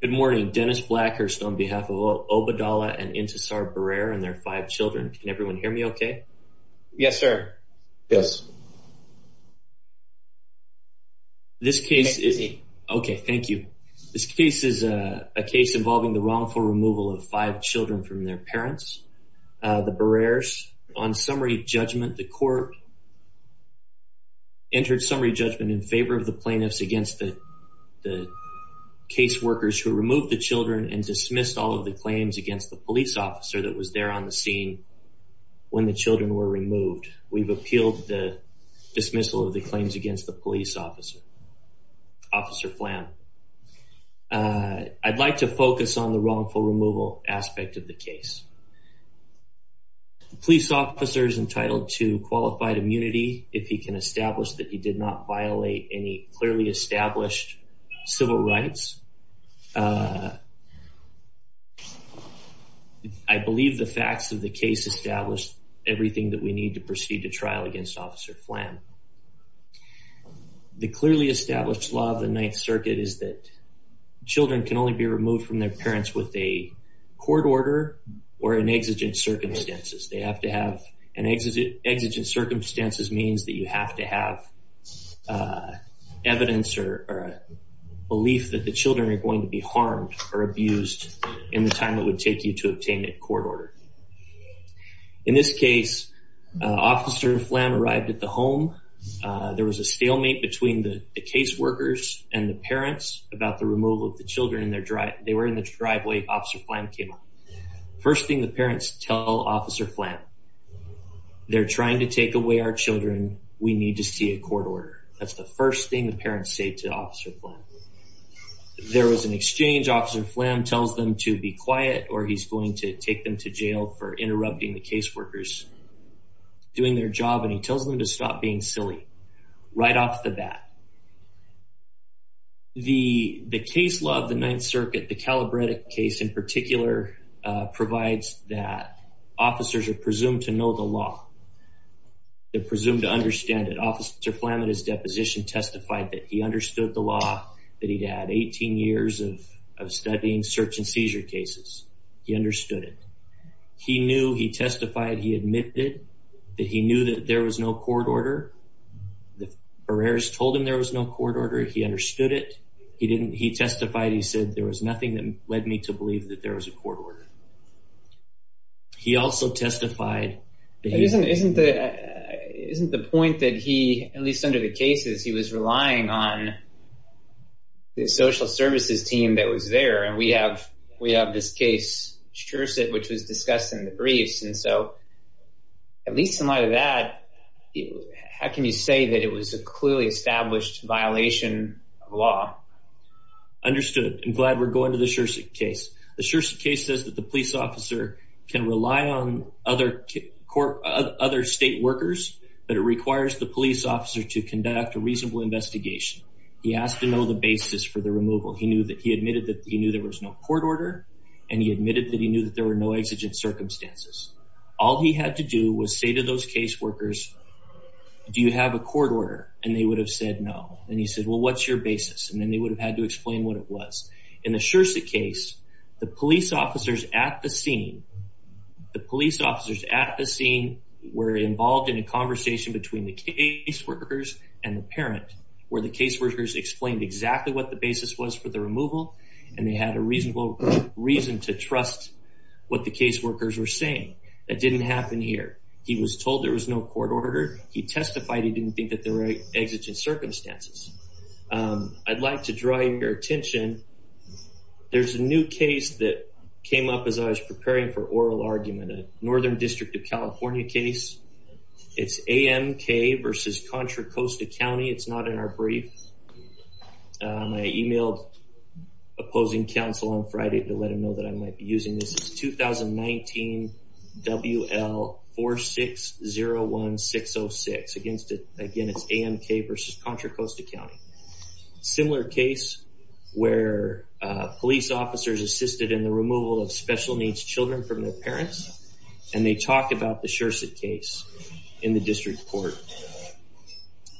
Good morning, Dennis Blackhurst on behalf of Obeidalla and Intisar Birair and their five children. Can everyone hear me okay? Yes, sir. Yes This case is... Okay, thank you. This case is a case involving the wrongful removal of five children from their parents The Birairs on summary judgment the court Entered summary judgment in favor of the plaintiffs against the Case workers who removed the children and dismissed all of the claims against the police officer that was there on the scene When the children were removed, we've appealed the dismissal of the claims against the police officer Officer Flam I'd like to focus on the wrongful removal aspect of the case The police officer is entitled to qualified immunity if he can establish that he did not violate any clearly established civil rights I believe the facts of the case established everything that we need to proceed to trial against officer Flam The clearly established law of the Ninth Circuit is that Children are going to be removed from their parents with a court order or an exigent circumstances They have to have an exigent circumstances means that you have to have Evidence or Belief that the children are going to be harmed or abused in the time. It would take you to obtain a court order in this case Officer Flam arrived at the home There was a stalemate between the case workers and the parents about the removal of the children in their drive They were in the driveway officer Flam came up. First thing the parents tell officer Flam They're trying to take away our children. We need to see a court order. That's the first thing the parents say to officer Flam There was an exchange officer Flam tells them to be quiet or he's going to take them to jail for interrupting the case workers Doing their job and he tells them to stop being silly right off the bat The the case law of the Ninth Circuit the Calabretic case in particular provides that Officers are presumed to know the law They're presumed to understand it officer Flam at his deposition testified that he understood the law that he'd had 18 years of Studying search and seizure cases. He understood it He knew he testified he admitted that he knew that there was no court order The Ferrer's told him there was no court order. He understood it. He didn't he testified He said there was nothing that led me to believe that there was a court order He also testified Isn't the isn't the point that he at least under the cases he was relying on The social services team that was there and we have we have this case Scherzit, which was discussed in the briefs and so At least in light of that How can you say that it was a clearly established violation of law? Understood and glad we're going to the Scherzit case. The Scherzit case says that the police officer can rely on other Other state workers, but it requires the police officer to conduct a reasonable investigation He has to know the basis for the removal He knew that he admitted that he knew there was no court order and he admitted that he knew that there were no exigent Circumstances. All he had to do was say to those case workers Do you have a court order and they would have said no and he said well What's your basis and then they would have had to explain what it was in the Scherzit case the police officers at the scene The police officers at the scene were involved in a conversation between the case workers and the parent where the case workers Explained exactly what the basis was for the removal and they had a reasonable reason to trust What the case workers were saying that didn't happen here. He was told there was no court order He testified he didn't think that there were exigent circumstances I'd like to draw your attention There's a new case that came up as I was preparing for oral argument a Northern District of California case It's AMK versus Contra Costa County. It's not in our brief I emailed Opposing counsel on Friday to let him know that I might be using this is 2019 WL 4 6 0 1 6 0 6 against it again. It's AMK versus Contra Costa County similar case where police officers assisted in the removal of special needs children from their parents and They talked about the Scherzit case in the district court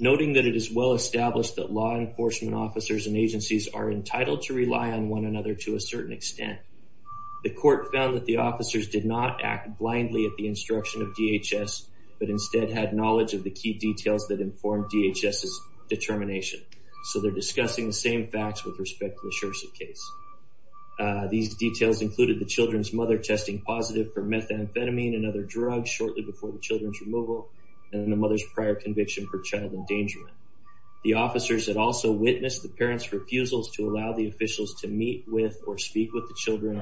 Noting that it is well established that law enforcement officers and agencies are entitled to rely on one another to a certain extent The court found that the officers did not act blindly at the instruction of DHS But instead had knowledge of the key details that informed DHS's determination So they're discussing the same facts with respect to the Scherzit case these details included the children's mother testing positive for methamphetamine and other drugs shortly before the children's removal and the mother's prior conviction for child endangerment the officers had also witnessed the parents refusals to allow the Officials to meet with or speak with the children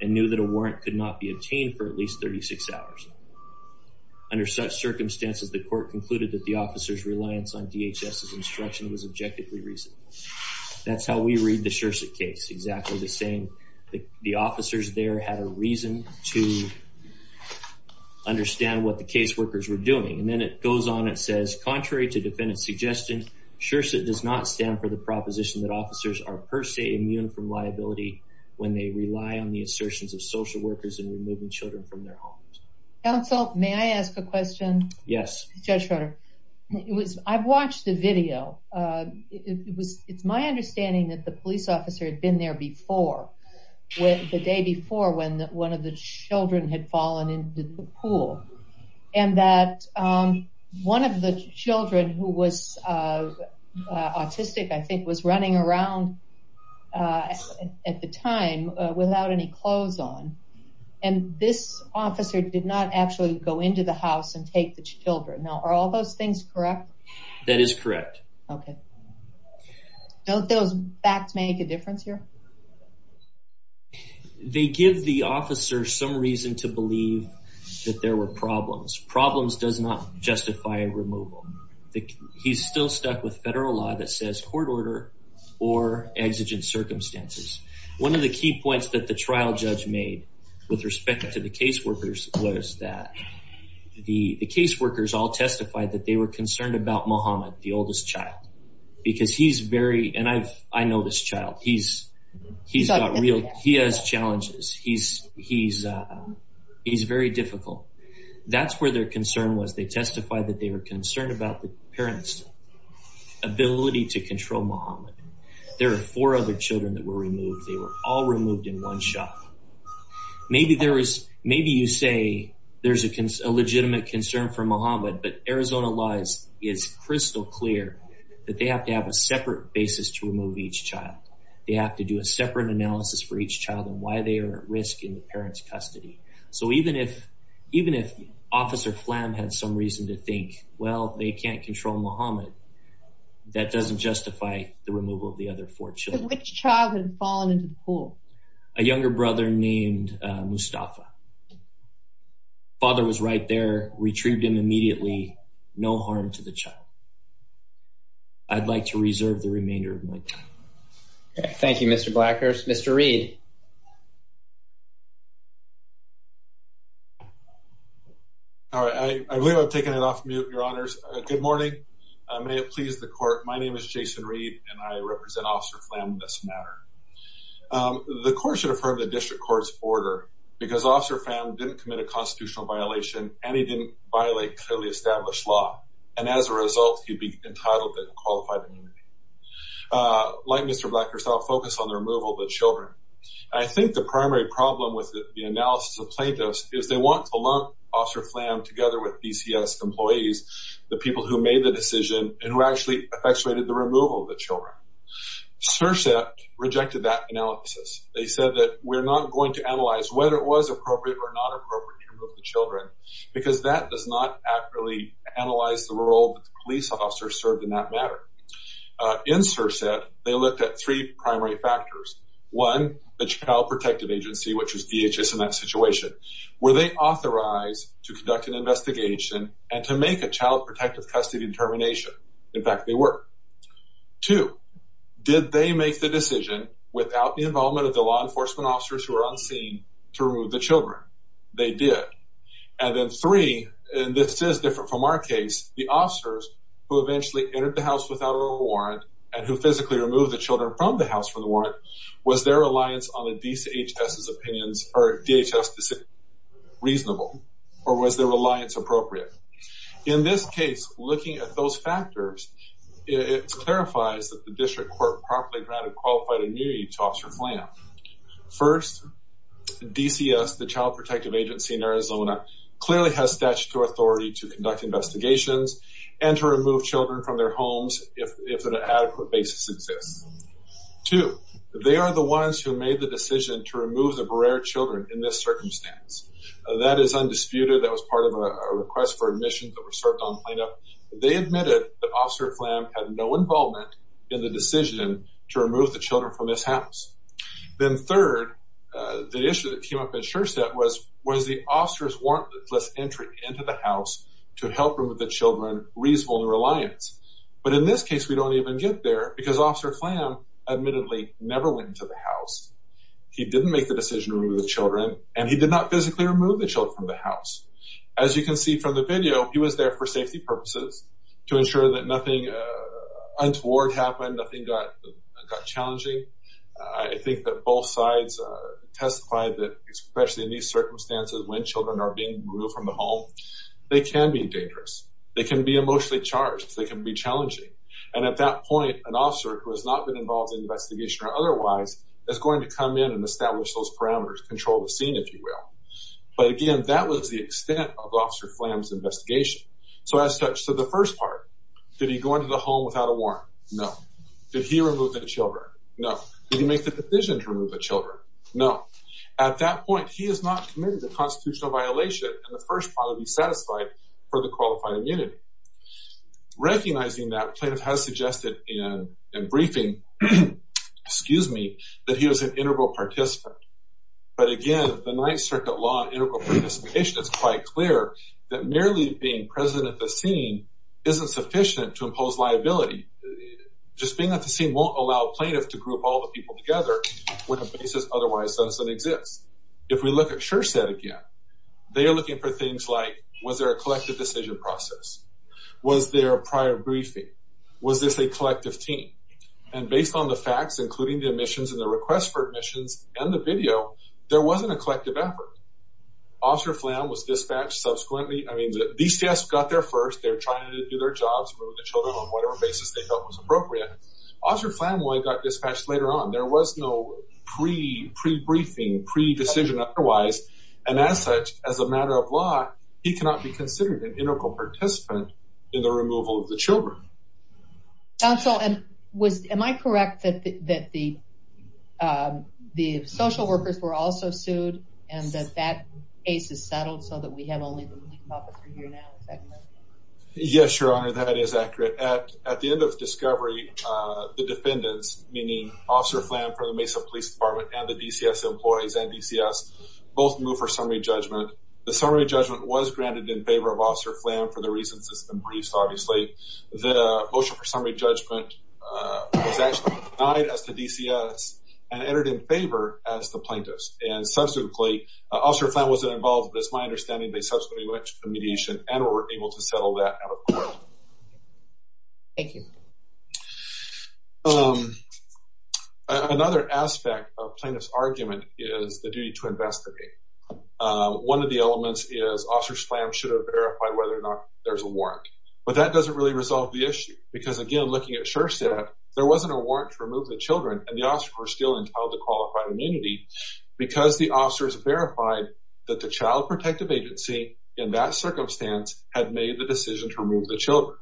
and knew that a warrant could not be obtained for at least 36 hours Under such circumstances the court concluded that the officers reliance on DHS's instruction was objectively reasonable That's how we read the Scherzit case exactly the same the officers there had a reason to Understand what the case workers were doing and then it goes on it says contrary to defendant suggestion Scherzit does not stand for the proposition that officers are per se immune from liability When they rely on the assertions of social workers and removing children from their homes Counsel, may I ask a question? Yes, Judge Schroeder. It was I've watched the video It was it's my understanding that the police officer had been there before with the day before when one of the children had fallen into the pool and that one of the children who was Autistic I think was running around At the time without any clothes on and This officer did not actually go into the house and take the children now are all those things correct that is correct, okay? Don't those facts make a difference here They give the officers some reason to believe that there were problems problems does not justify removal he's still stuck with federal law that says court order or exigent circumstances one of the key points that the trial judge made with respect to the case workers was that The the case workers all testified that they were concerned about Muhammad the oldest child Because he's very and I've I know this child. He's he's not real. He has challenges. He's he's He's very difficult. That's where their concern was. They testified that they were concerned about the parents Ability to control Muhammad there are four other children that were removed they were all removed in one shot Maybe there is maybe you say there's a legitimate concern for Muhammad But Arizona lies is crystal clear that they have to have a separate basis to remove each child They have to do a separate analysis for each child and why they are at risk in the parents custody So even if even if officer phlegm had some reason to think well They can't control Muhammad That doesn't justify the removal of the other four children which child had fallen into the pool a younger brother named Mustafa Father was right there retrieved him immediately no harm to the child I'd like to reserve the remainder of my time Thank You. Mr. Blackhurst, mr. Reed You All right, I believe I've taken it off mute your honors good morning, may it please the court My name is Jason Reed and I represent officer phlegm in this matter The court should have heard the district courts order because officer phlegm didn't commit a constitutional violation And he didn't violate clearly established law and as a result he'd be entitled to qualified Like mr. Blackhurst, I'll focus on the removal of the children I think the primary problem with the analysis of plaintiffs is they want to lump officer phlegm together with BCS Employees the people who made the decision and who actually effectuated the removal of the children SERSAP rejected that analysis. They said that we're not going to analyze whether it was appropriate or not appropriate to remove the children Because that does not accurately analyze the role that the police officer served in that matter In SERSAP, they looked at three primary factors one the child protective agency Which is DHS in that situation were they authorized to conduct an investigation and to make a child protective custody determination? In fact, they were two Did they make the decision without the involvement of the law enforcement officers who are on scene to remove the children? They did and then three and this is different from our case the officers Who eventually entered the house without a warrant and who physically removed the children from the house from the warrant? Was their reliance on the DHS's opinions or DHS decision Reasonable or was their reliance appropriate? In this case looking at those factors It clarifies that the district court properly granted qualified immunity to officer phlegm DCS the child protective agency in Arizona Clearly has statutory authority to conduct investigations and to remove children from their homes if an adequate basis exists To they are the ones who made the decision to remove the Barrera children in this circumstance That is undisputed. That was part of a request for admission that were served on cleanup They admitted the officer phlegm had no involvement in the decision to remove the children from this house then third The issue that came up in sure step was was the officers warrantless entry into the house to help remove the children Reasonable in reliance, but in this case, we don't even get there because officer phlegm admittedly never went into the house He didn't make the decision to remove the children and he did not physically remove the children from the house as you can see from The video he was there for safety purposes to ensure that nothing Untoward happened nothing got challenging. I think that both sides Testified that especially in these circumstances when children are being removed from the home. They can be dangerous They can be emotionally charged They can be challenging and at that point an officer who has not been involved in investigation or otherwise That's going to come in and establish those parameters control the scene if you will But again, that was the extent of officer flam's investigation So as such to the first part did he go into the home without a warrant? No, did he remove the children? No, did he make the decision to remove the children? No At that point he is not committed to constitutional violation and the first part of you satisfied for the qualified immunity Recognizing that plaintiff has suggested in a briefing Excuse me that he was an integral participant But again, the Ninth Circuit law integral participation is quite clear that merely being present at the scene Isn't sufficient to impose liability Just being at the scene won't allow plaintiff to group all the people together When a basis otherwise doesn't exist if we look at sure said again They are looking for things like was there a collective decision process? Was there a prior briefing? Was this a collective team and based on the facts including the admissions and the request for admissions and the video? There wasn't a collective effort Officer flam was dispatched subsequently. I mean the DCS got there first They're trying to do their jobs On whatever basis they felt was appropriate. Officer Flamoy got dispatched later on. There was no pre-briefing Pre-decision otherwise and as such as a matter of law, he cannot be considered an integral participant in the removal of the children counsel and was am I correct that the The social workers were also sued and that that case is settled so that we have only Yes, your honor that is accurate at at the end of discovery The defendants meaning officer flam from the Mesa Police Department and the DCS employees and DCS both move for summary judgment The summary judgment was granted in favor of officer flam for the reasons. It's been briefed. Obviously the motion for summary judgment was actually denied as to DCS and entered in favor as the plaintiffs and Subsequently officer flam wasn't involved. That's my understanding. They subsequently went to mediation and were able to settle that Thank you Another aspect of plaintiff's argument is the duty to investigate One of the elements is officers flam should have verified whether or not there's a warrant But that doesn't really resolve the issue because again looking at sure set There wasn't a warrant to remove the children and the officer were still entitled to qualified immunity Because the officers verified that the Child Protective Agency in that circumstance had made the decision to remove the children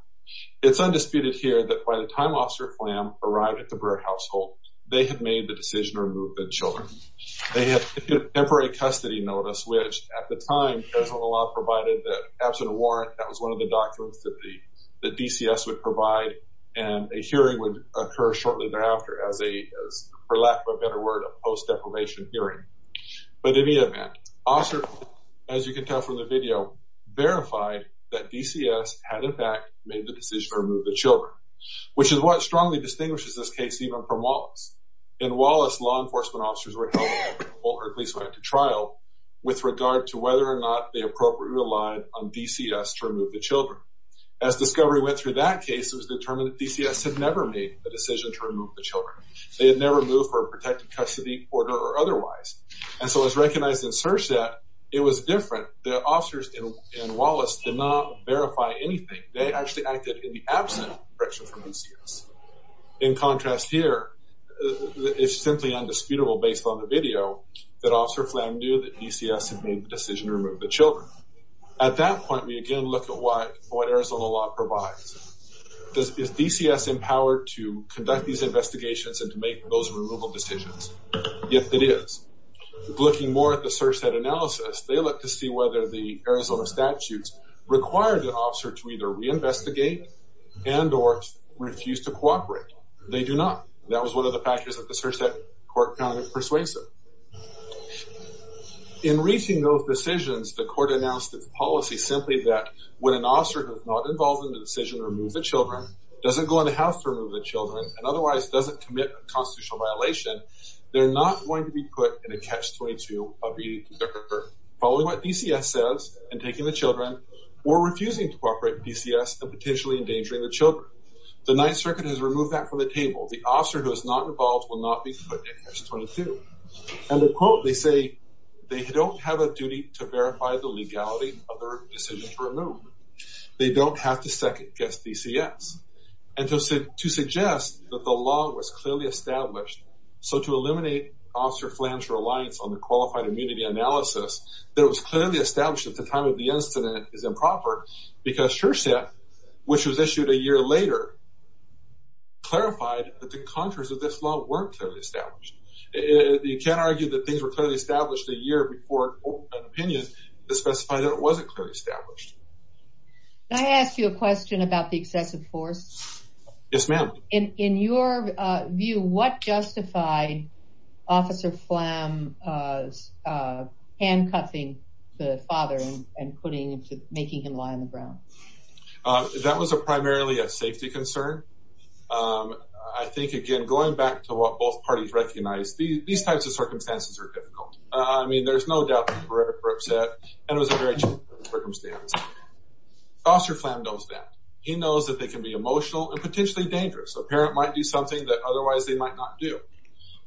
It's undisputed here that by the time officer flam arrived at the Brewer household. They had made the decision to remove the children They have temporary custody notice, which at the time there's a lot provided that absent warrant that was one of the documents that the the DCS would provide and a hearing would occur shortly thereafter as a For lack of a better word a post deprivation hearing But in the event officer as you can tell from the video Verified that DCS had in fact made the decision to remove the children Which is what strongly distinguishes this case even from Wallace. In Wallace law enforcement officers were held accountable or at least went to trial with regard to whether or not they appropriately relied on DCS to remove the children. As Discovery went through that case. It was determined that DCS had never made the decision to remove the children They had never moved for a protected custody order or otherwise. And so it's recognized in search that it was different The officers in Wallace did not verify anything. They actually acted in the absent direction from DCS. In contrast here It's simply undisputable based on the video that officer flam knew that DCS had made the decision to remove the children At that point we again look at what what Arizona law provides Does DCS empower to conduct these investigations and to make those removal decisions. If it is Looking more at the search that analysis. They look to see whether the Arizona statutes required an officer to either reinvestigate And or refuse to cooperate. They do not. That was one of the factors that the search that court found it persuasive In reaching those decisions the court announced its policy simply that when an officer has not involved in the decision To remove the children doesn't go in the house to remove the children and otherwise doesn't commit a constitutional violation They're not going to be put in a catch-22 of the Following what DCS says and taking the children or refusing to cooperate DCS and potentially endangering the children The Ninth Circuit has removed that from the table. The officer who is not involved will not be put in a catch-22 And the quote they say they don't have a duty to verify the legality of their decision to remove They don't have to second-guess DCS and to say to suggest that the law was clearly established So to eliminate officer flange reliance on the qualified immunity analysis There was clearly established at the time of the incident is improper because sure set which was issued a year later Clarified that the contours of this law weren't clearly established You can't argue that things were clearly established a year before an opinion to specify that it wasn't clearly established I asked you a question about the excessive force Yes, ma'am in in your view what justified officer flam Handcuffing the father and putting into making him lie on the ground That was a primarily a safety concern I think again going back to what both parties recognized these types of circumstances are difficult. I mean, there's no doubt And it was a very Foster flam knows that he knows that they can be emotional and potentially dangerous a parent might do something that otherwise they might not do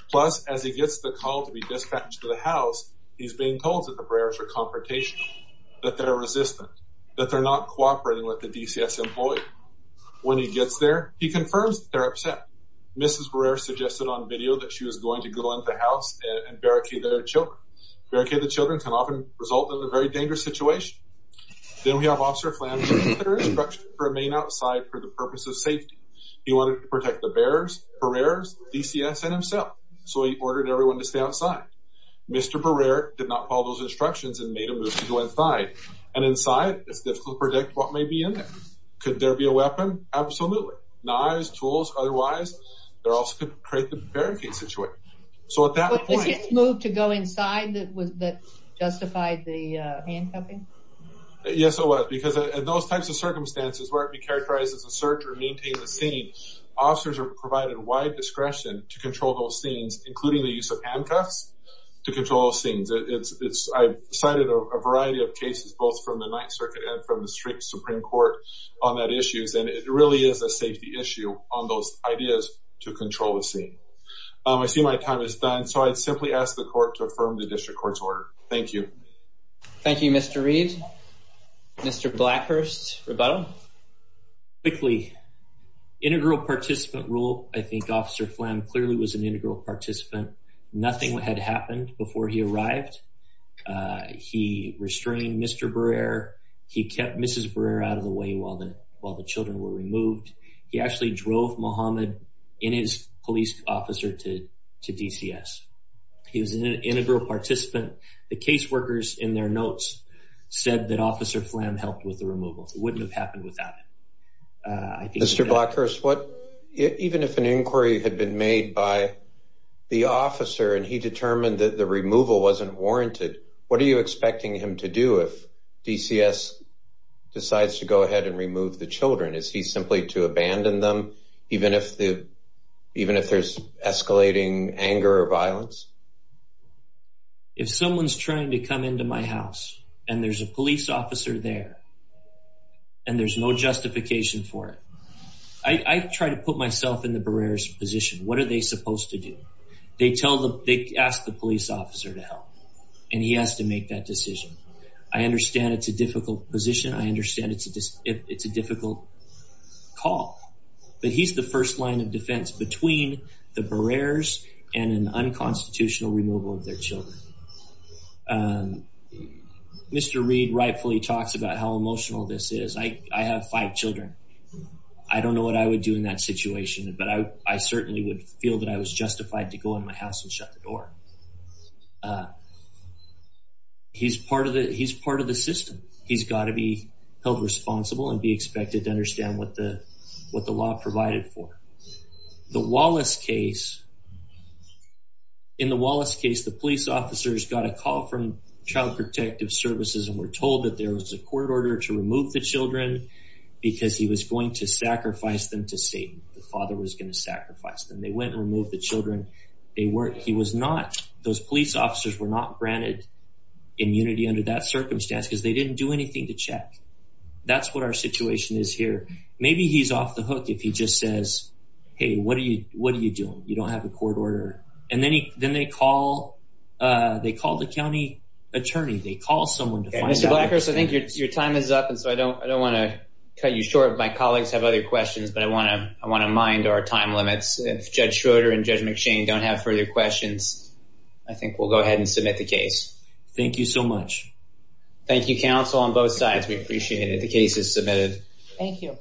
Plus as he gets the call to be dispatched to the house He's being told that the prayers are confrontational that they're resistant that they're not cooperating with the DCS employee When he gets there, he confirms their upset mrs We're suggested on video that she was going to go into the house and barricade their children Barricade the children can often result in a very dangerous situation Then we have officer flam Remain outside for the purpose of safety. He wanted to protect the bears for errors DCS and himself So he ordered everyone to stay outside Mr. Barrera did not follow those instructions and made a move to go inside and inside It's difficult to predict what may be in there. Could there be a weapon? Absolutely knives tools Otherwise, they're also could create the barricade situation. So at that point move to go inside. That was that Justified the handcuffing Yes, so what because those types of circumstances where it be characterized as a search or maintain the scene Officers are provided wide discretion to control those scenes including the use of handcuffs to control scenes It's it's I've cited a variety of cases both from the Ninth Circuit and from the street Supreme Court on that issues And it really is a safety issue on those ideas to control the scene. I see my time is done So I'd simply ask the court to affirm the district court's order. Thank you. Thank you. Mr. Reid Mr. Blackhurst rebuttal quickly Integral participant rule. I think officer phlegm clearly was an integral participant. Nothing what had happened before he arrived He restrained mr. Brer He kept mrs. Brer out of the way while the while the children were removed He actually drove Muhammad in his police officer to to DCS He was an integral participant the caseworkers in their notes Said that officer phlegm helped with the removal wouldn't have happened without it Mr. Blackhurst what? even if an inquiry had been made by The officer and he determined that the removal wasn't warranted. What are you expecting him to do if DCS? Decides to go ahead and remove the children. Is he simply to abandon them even if the even if there's escalating anger or violence If someone's trying to come into my house and there's a police officer there and There's no justification for it. I Try to put myself in the barriers position. What are they supposed to do? They tell them they ask the police officer to help and he has to make that decision. I understand. It's a difficult position I understand it's a it's a difficult Call but he's the first line of defense between the barriers and an unconstitutional removal of their children Mr. Reid rightfully talks about how emotional this is. I have five children I don't know what I would do in that situation But I I certainly would feel that I was justified to go in my house and shut the door He's Part of it. He's part of the system He's got to be held responsible and be expected to understand what the what the law provided for the Wallace case in the Wallace case The police officers got a call from Child Protective Services and were told that there was a court order to remove the children Because he was going to sacrifice them to Satan the father was going to sacrifice them. They went and removed the children They weren't he was not those police officers were not granted Immunity under that circumstance because they didn't do anything to check. That's what our situation is here Maybe he's off the hook if he just says hey, what are you? What are you doing? You don't have a court order and then he then they call They call the county attorney. They call someone to find out. I think your time is up And so I don't I don't want to cut you short My colleagues have other questions, but I want to I want to mind our time limits if Judge Schroeder and Judge McShane don't have further questions I think we'll go ahead and submit the case. Thank you so much Thank you counsel on both sides. We appreciate it. The case is submitted. Thank you